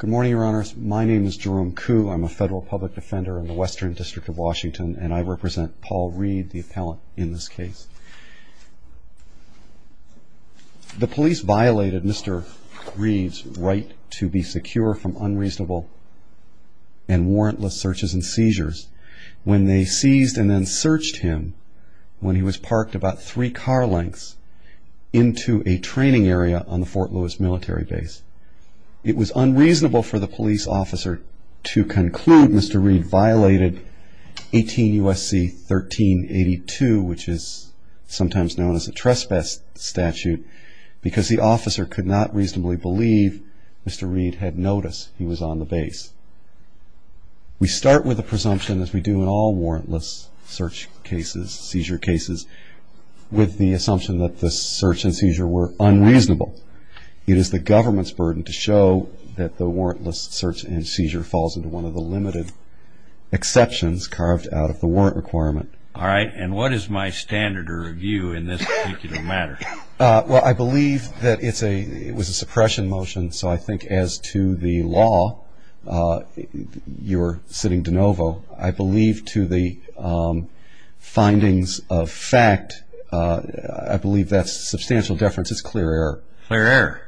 Good morning, your honors. My name is Jerome Kuh. I'm a federal public defender in the Western District of Washington, and I represent Paul Reid, the appellant in this case. The police violated Mr. Reid's right to be secure from unreasonable and warrantless searches and seizures when they seized and then searched him when he was parked about three car lengths into a training area on the Fort Lewis Military Base. It was unreasonable for the police officer to conclude Mr. Reid violated 18 U.S.C. 1382, which is sometimes known as a trespass statute, because the officer could not reasonably believe Mr. Reid had noticed he was on the base. We start with a presumption, as we do in all warrantless search cases, seizure cases, with the assumption that the search and seizure were unreasonable. It is the government's burden to show that the warrantless search and seizure falls into one of the limited exceptions carved out of the warrant requirement. All right, and what is my standard of review in this particular matter? Well, I believe that it was a suppression motion, so I think as to the law, you're sitting de novo. I believe to the findings of fact, I believe that's substantial deference. It's clear error. Clear error?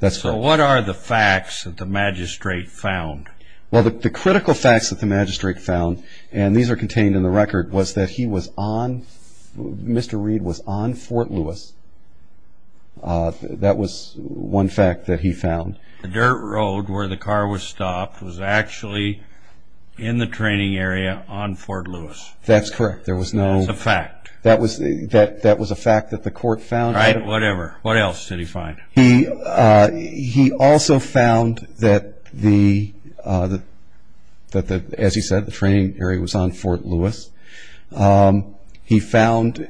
That's correct. So what are the facts that the magistrate found? Well, the critical facts that the magistrate found, and these are contained in the record, was that he was on, Mr. Reid was on Fort Lewis. That was one fact that he found. The dirt road where the car was stopped was actually in the training area on Fort Lewis. That's correct. That's a fact. That was a fact that the court found. Right, whatever. What else did he find? He also found that, as he said, the training area was on Fort Lewis. He found,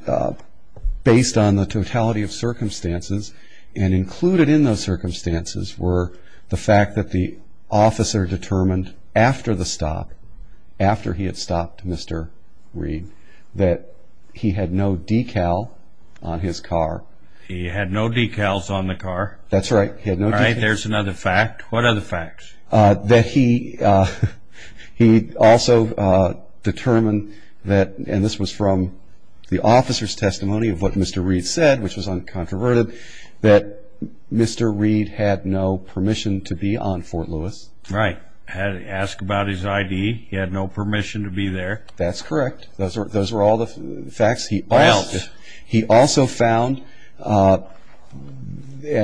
based on the totality of circumstances, and included in those circumstances were the fact that the officer determined after the stop, after he had stopped Mr. Reid, that he had no decal on his car. He had no decals on the car. That's right, he had no decals. All right, there's another fact. What other facts? That he also determined that, and this was from the officer's testimony of what Mr. Reid said, which was uncontroverted, that Mr. Reid had no permission to be on Fort Lewis. Right. Asked about his ID. He had no permission to be there. That's correct. Those were all the facts. What else? He also found, and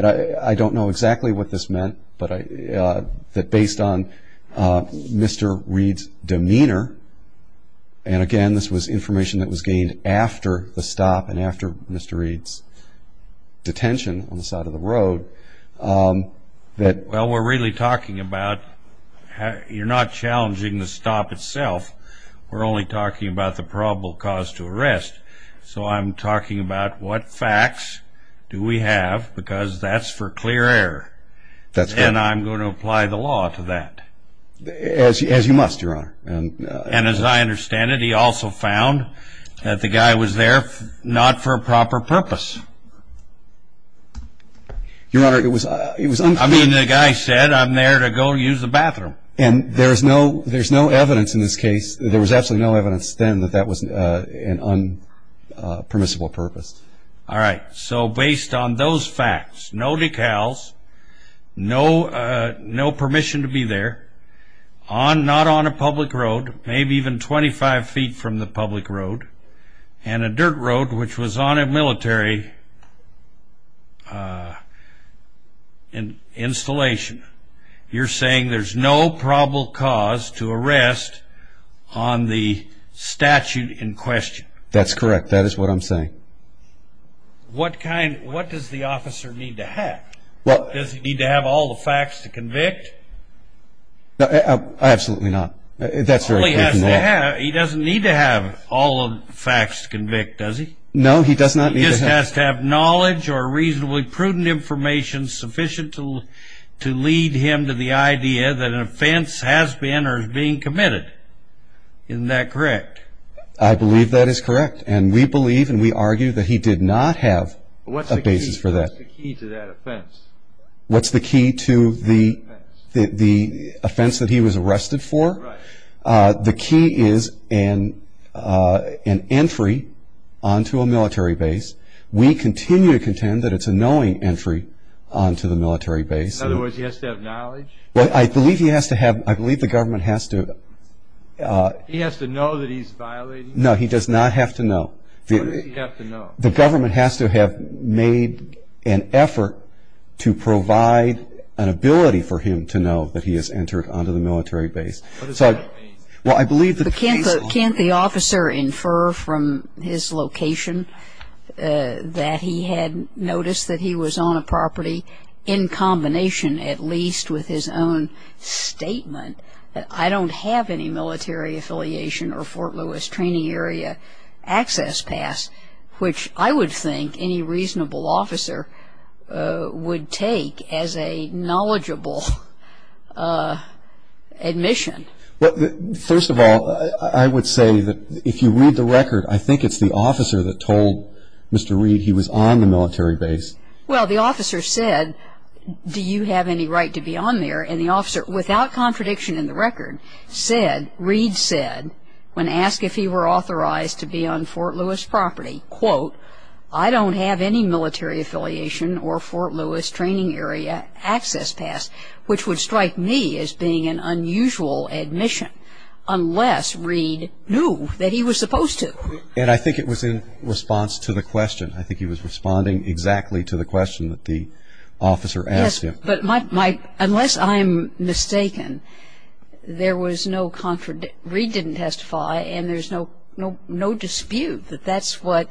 I don't know exactly what this meant, but that based on Mr. Reid's demeanor, and again this was information that was gained after the stop and after Mr. Reid's detention on the side of the road, that Well, we're really talking about, you're not challenging the stop itself. We're only talking about the probable cause to arrest. So I'm talking about what facts do we have, because that's for clear air. That's correct. And I'm going to apply the law to that. As you must, Your Honor. And as I understand it, he also found that the guy was there not for a proper purpose. Your Honor, it was unclear. And there's no evidence in this case, there was absolutely no evidence then that that was an unpermissible purpose. All right. So based on those facts, no decals, no permission to be there, not on a public road, maybe even 25 feet from the public road, and a dirt road which was on a military installation, you're saying there's no probable cause to arrest on the statute in question. That's correct. That is what I'm saying. What does the officer need to have? Does he need to have all the facts to convict? Absolutely not. That's very clear from the law. He doesn't need to have all the facts to convict, does he? No, he does not need to have. He just has to have knowledge or reasonably prudent information sufficient to lead him to the idea that an offense has been or is being committed. Isn't that correct? I believe that is correct. And we believe and we argue that he did not have a basis for that. What's the key to that offense? What's the key to the offense that he was arrested for? The key is an entry onto a military base. We continue to contend that it's a knowing entry onto the military base. In other words, he has to have knowledge? I believe he has to have, I believe the government has to. He has to know that he's violating? No, he does not have to know. What does he have to know? The government has to have made an effort to provide an ability for him to know that he has entered onto the military base. Can't the officer infer from his location that he had noticed that he was on a property, in combination at least with his own statement, that I don't have any military affiliation or Fort Lewis training area access pass, which I would think any reasonable officer would take as a knowledgeable admission? First of all, I would say that if you read the record, I think it's the officer that told Mr. Reed he was on the military base. Well, the officer said, do you have any right to be on there? And the officer, without contradiction in the record, said, when asked if he were authorized to be on Fort Lewis property, quote, I don't have any military affiliation or Fort Lewis training area access pass, which would strike me as being an unusual admission, unless Reed knew that he was supposed to. And I think it was in response to the question. I think he was responding exactly to the question that the officer asked him. But my ‑‑ unless I'm mistaken, there was no ‑‑ Reed didn't testify, and there's no dispute that that's what ‑‑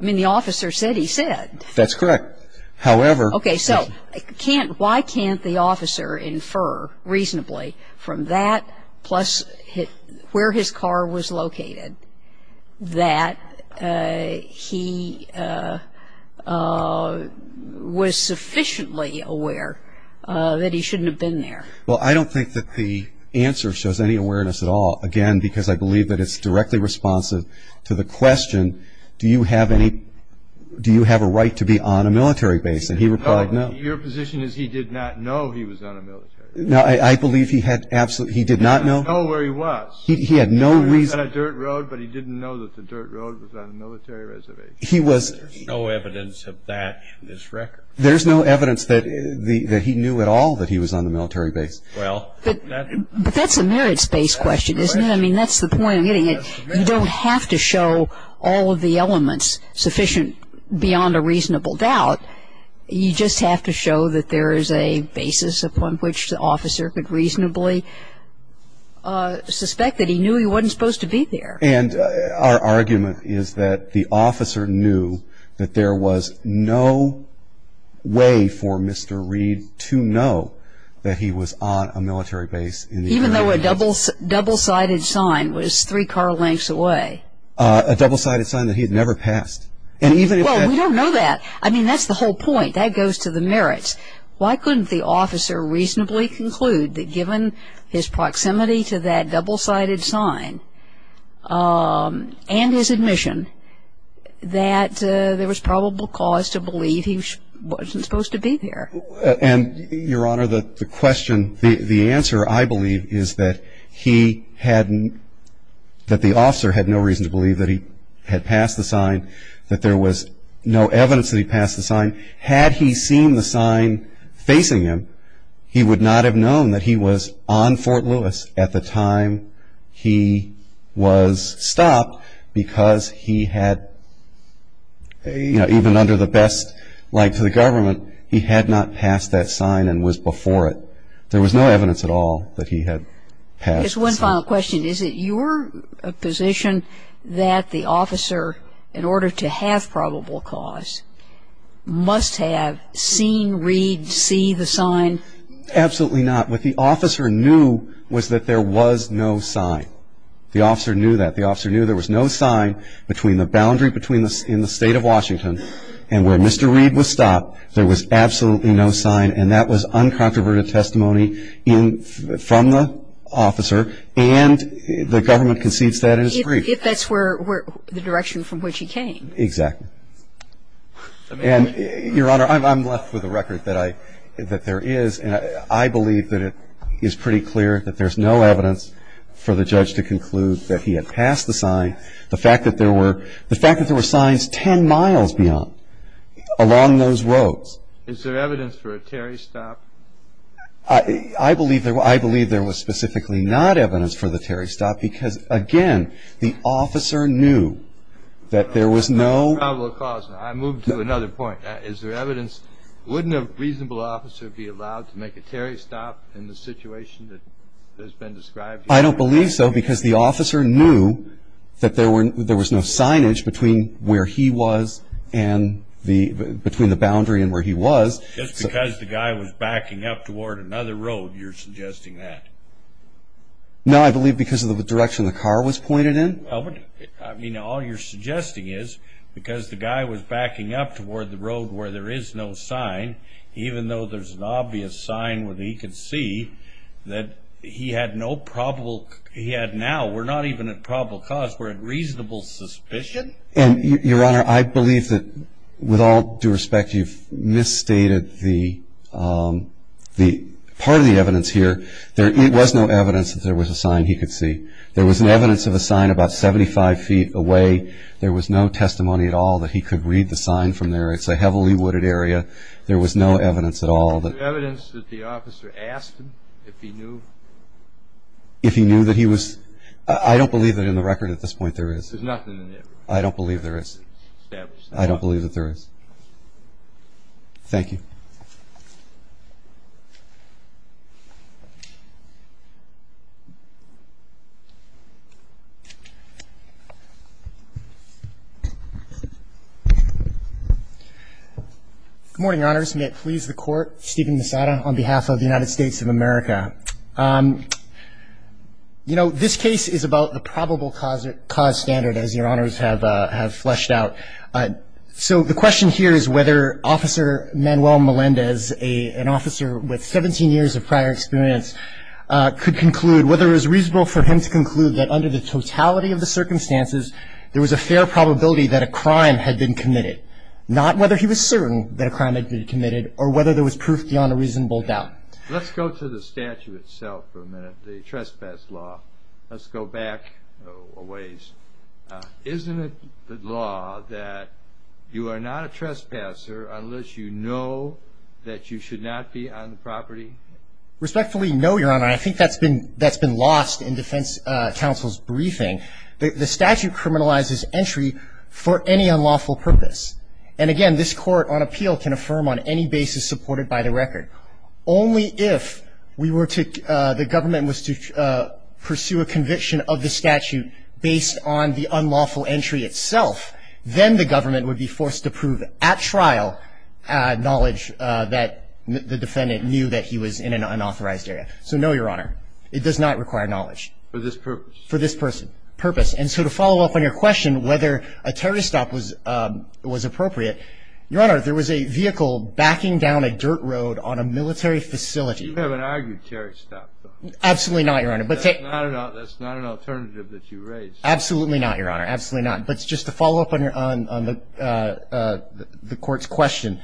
I mean, the officer said he said. That's correct. However ‑‑ Okay. So why can't the officer infer reasonably from that plus where his car was located that he was sufficiently aware that he shouldn't have been there? Well, I don't think that the answer shows any awareness at all. Again, because I believe that it's directly responsive to the question, do you have any ‑‑ do you have a right to be on a military base? And he replied no. Your position is he did not know he was on a military base. No, I believe he had absolutely ‑‑ he did not know. He didn't know where he was. He had no reason. He was on a dirt road, but he didn't know that the dirt road was on a military reservation. He was ‑‑ There's no evidence of that in this record. There's no evidence that he knew at all that he was on the military base. Well, that ‑‑ But that's a merits‑based question, isn't it? I mean, that's the point I'm getting at. You don't have to show all of the elements sufficient beyond a reasonable doubt. You just have to show that there is a basis upon which the officer could reasonably suspect that he knew he wasn't supposed to be there. And our argument is that the officer knew that there was no way for Mr. Reed to know that he was on a military base in the area. Even though a double‑sided sign was three car lengths away. A double‑sided sign that he had never passed. And even if that ‑‑ Well, we don't know that. I mean, that's the whole point. That goes to the merits. Why couldn't the officer reasonably conclude that given his proximity to that double‑sided sign and his admission that there was probable cause to believe he wasn't supposed to be there? And, Your Honor, the question, the answer, I believe, is that he hadn't ‑‑ that the officer had no reason to believe that he had passed the sign, that there was no evidence that he passed the sign. Had he seen the sign facing him, he would not have known that he was on Fort Lewis at the time he was stopped because he had, you know, even under the best light of the government, he had not passed that sign and was before it. There was no evidence at all that he had passed the sign. Just one final question. Is it your position that the officer, in order to have probable cause, must have seen Reed see the sign? Absolutely not. What the officer knew was that there was no sign. The officer knew that. The officer knew there was no sign between the boundary in the state of Washington and where Mr. Reed was stopped. There was absolutely no sign, and that was uncontroverted testimony from the officer and the government concedes that in its brief. If that's where ‑‑ the direction from which he came. Exactly. And, Your Honor, I'm left with a record that I ‑‑ that there is, and I believe that it is pretty clear that there's no evidence for the judge to conclude that he had passed the sign. The fact that there were ‑‑ the fact that there were signs ten miles beyond, along those roads. Is there evidence for a Terry stop? I believe there was specifically not evidence for the Terry stop because, again, the officer knew that there was no ‑‑ No probable cause. I move to another point. Is there evidence? Wouldn't a reasonable officer be allowed to make a Terry stop in the situation that has been described here? I don't believe so because the officer knew that there was no signage between where he was and the ‑‑ between the boundary and where he was. Just because the guy was backing up toward another road, you're suggesting that? No, I believe because of the direction the car was pointed in. I mean, all you're suggesting is because the guy was backing up toward the road where there is no sign, even though there's an obvious sign where he could see that he had no probable ‑‑ he had now, we're not even at probable cause, we're at reasonable suspicion? And, Your Honor, I believe that, with all due respect, you've misstated the part of the evidence here. There was no evidence that there was a sign he could see. There was evidence of a sign about 75 feet away. There was no testimony at all that he could read the sign from there. It's a heavily wooded area. There was no evidence at all. Is there evidence that the officer asked him if he knew? If he knew that he was ‑‑ I don't believe that in the record at this point there is. There's nothing in there? I don't believe there is. I don't believe that there is. Thank you. Good morning, Your Honors. May it please the Court, Stephen Misada on behalf of the United States of America. You know, this case is about the probable cause standard, as Your Honors have fleshed out. So the question here is whether Officer Manuel Melendez, an officer with 17 years of prior experience, could conclude whether it was reasonable for him to conclude that under the totality of the circumstances, there was a fair probability that a crime had been committed. Not whether he was certain that a crime had been committed or whether there was proof beyond a reasonable doubt. Let's go to the statute itself for a minute, the trespass law. Let's go back a ways. Isn't it the law that you are not a trespasser unless you know that you should not be on the property? Respectfully, no, Your Honor. I think that's been lost in defense counsel's briefing. The statute criminalizes entry for any unlawful purpose. And again, this court on appeal can affirm on any basis supported by the record. Only if the government was to pursue a conviction of the statute based on the unlawful entry itself, then the government would be forced to prove at trial knowledge that the defendant knew that he was in an unauthorized area. So no, Your Honor. It does not require knowledge. For this purpose. For this purpose. And so to follow up on your question, whether a terrorist stop was appropriate, Your Honor, there was a vehicle backing down a dirt road on a military facility. You haven't argued terrorist stop, though. Absolutely not, Your Honor. That's not an alternative that you raised. Absolutely not, Your Honor. Absolutely not. But just to follow up on the court's question,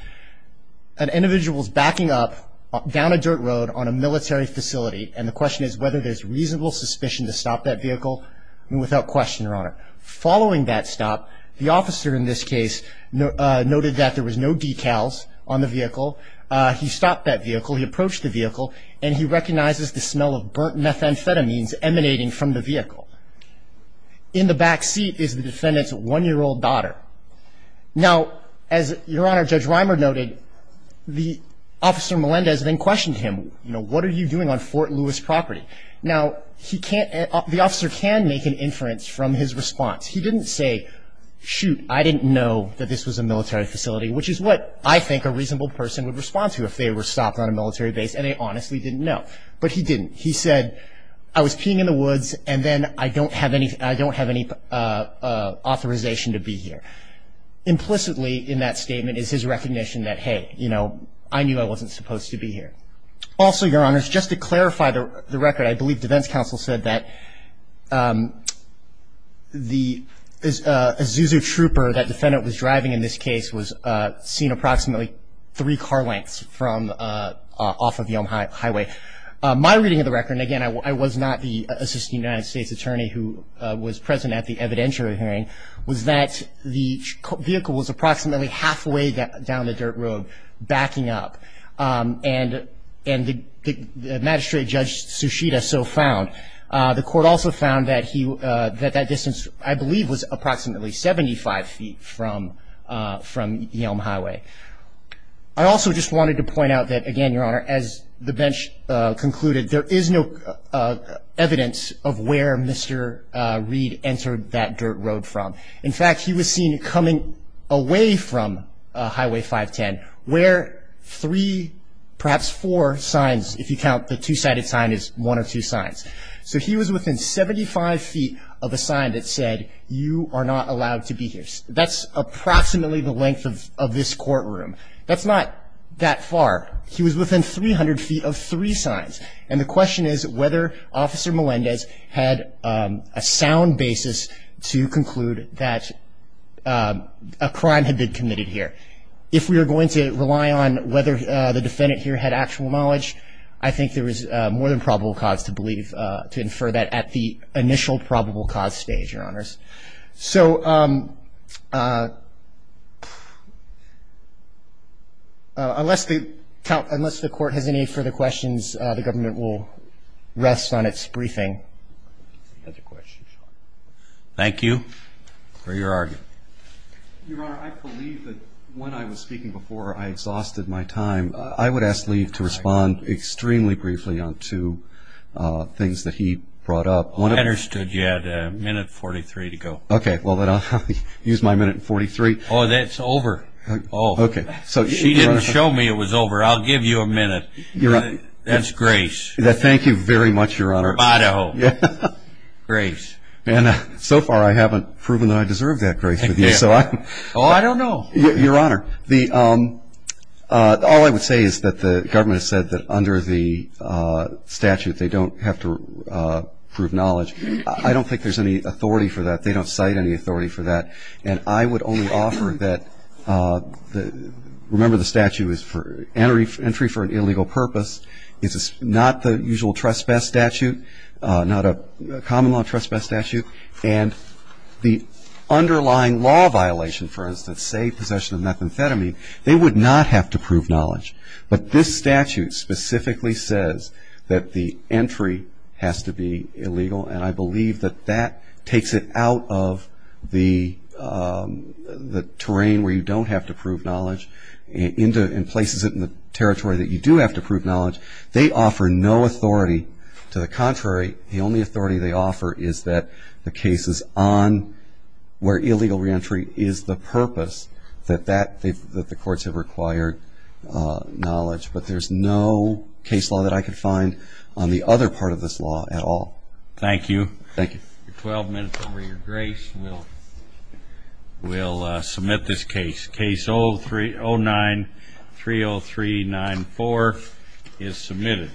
an individual's backing up down a dirt road on a military facility, and the question is whether there's reasonable suspicion to stop that vehicle. Without question, Your Honor. Following that stop, the officer in this case noted that there was no decals on the vehicle. He stopped that vehicle. He approached the vehicle, and he recognizes the smell of burnt methamphetamines emanating from the vehicle. In the back seat is the defendant's one-year-old daughter. Now, as Your Honor, Judge Reimer noted, the officer, Melendez, then questioned him. You know, what are you doing on Fort Lewis property? Now, the officer can make an inference from his response. He didn't say, shoot, I didn't know that this was a military facility, which is what I think a reasonable person would respond to if they were stopped on a military base, and they honestly didn't know. But he didn't. He said, I was peeing in the woods, and then I don't have any authorization to be here. Implicitly in that statement is his recognition that, hey, you know, I knew I wasn't supposed to be here. Also, Your Honor, just to clarify the record, I believe defense counsel said that the Azusa Trooper that the defendant was driving in this case was seen approximately three car lengths from off of Yelm Highway. My reading of the record, and, again, I was not the Assistant United States Attorney who was present at the evidentiary hearing, was that the vehicle was approximately halfway down the dirt road, backing up, and the magistrate, Judge Sushita, so found. The court also found that that distance, I believe, was approximately 75 feet from Yelm Highway. I also just wanted to point out that, again, Your Honor, as the bench concluded, there is no evidence of where Mr. Reed entered that dirt road from. In fact, he was seen coming away from Highway 510 where three, perhaps four signs, if you count the two-sided sign, is one of two signs. So he was within 75 feet of a sign that said, you are not allowed to be here. That's approximately the length of this courtroom. That's not that far. He was within 300 feet of three signs, And the question is whether Officer Melendez had a sound basis to conclude that a crime had been committed here. If we are going to rely on whether the defendant here had actual knowledge, I think there is more than probable cause to believe, to infer that at the initial probable cause stage, Your Honors. So unless the court has any further questions, the government will rest on its briefing. Thank you for your argument. Your Honor, I believe that when I was speaking before, I exhausted my time. I would ask Lee to respond extremely briefly on two things that he brought up. I understood you had a minute and 43 to go. Okay, well then I'll use my minute and 43. Oh, that's over. Okay. She didn't show me it was over. I'll give you a minute. That's grace. Thank you very much, Your Honor. From Idaho. Grace. So far, I haven't proven that I deserve that grace with you. Oh, I don't know. Your Honor, all I would say is that the government has said that under the statute, they don't have to prove knowledge. I don't think there's any authority for that. They don't cite any authority for that. And I would only offer that, remember the statute is for entry for an illegal purpose. It's not the usual trespass statute, not a common law trespass statute. And the underlying law violation, for instance, say possession of methamphetamine, they would not have to prove knowledge. But this statute specifically says that the entry has to be illegal, and I believe that that takes it out of the terrain where you don't have to prove knowledge and places it in the territory that you do have to prove knowledge. They offer no authority. To the contrary, the only authority they offer is that the cases on where illegal reentry is the purpose, that the courts have required knowledge. But there's no case law that I could find on the other part of this law at all. Thank you. Thank you. Your 12 minutes over your grace. We'll submit this case. Case 09-30394 is submitted.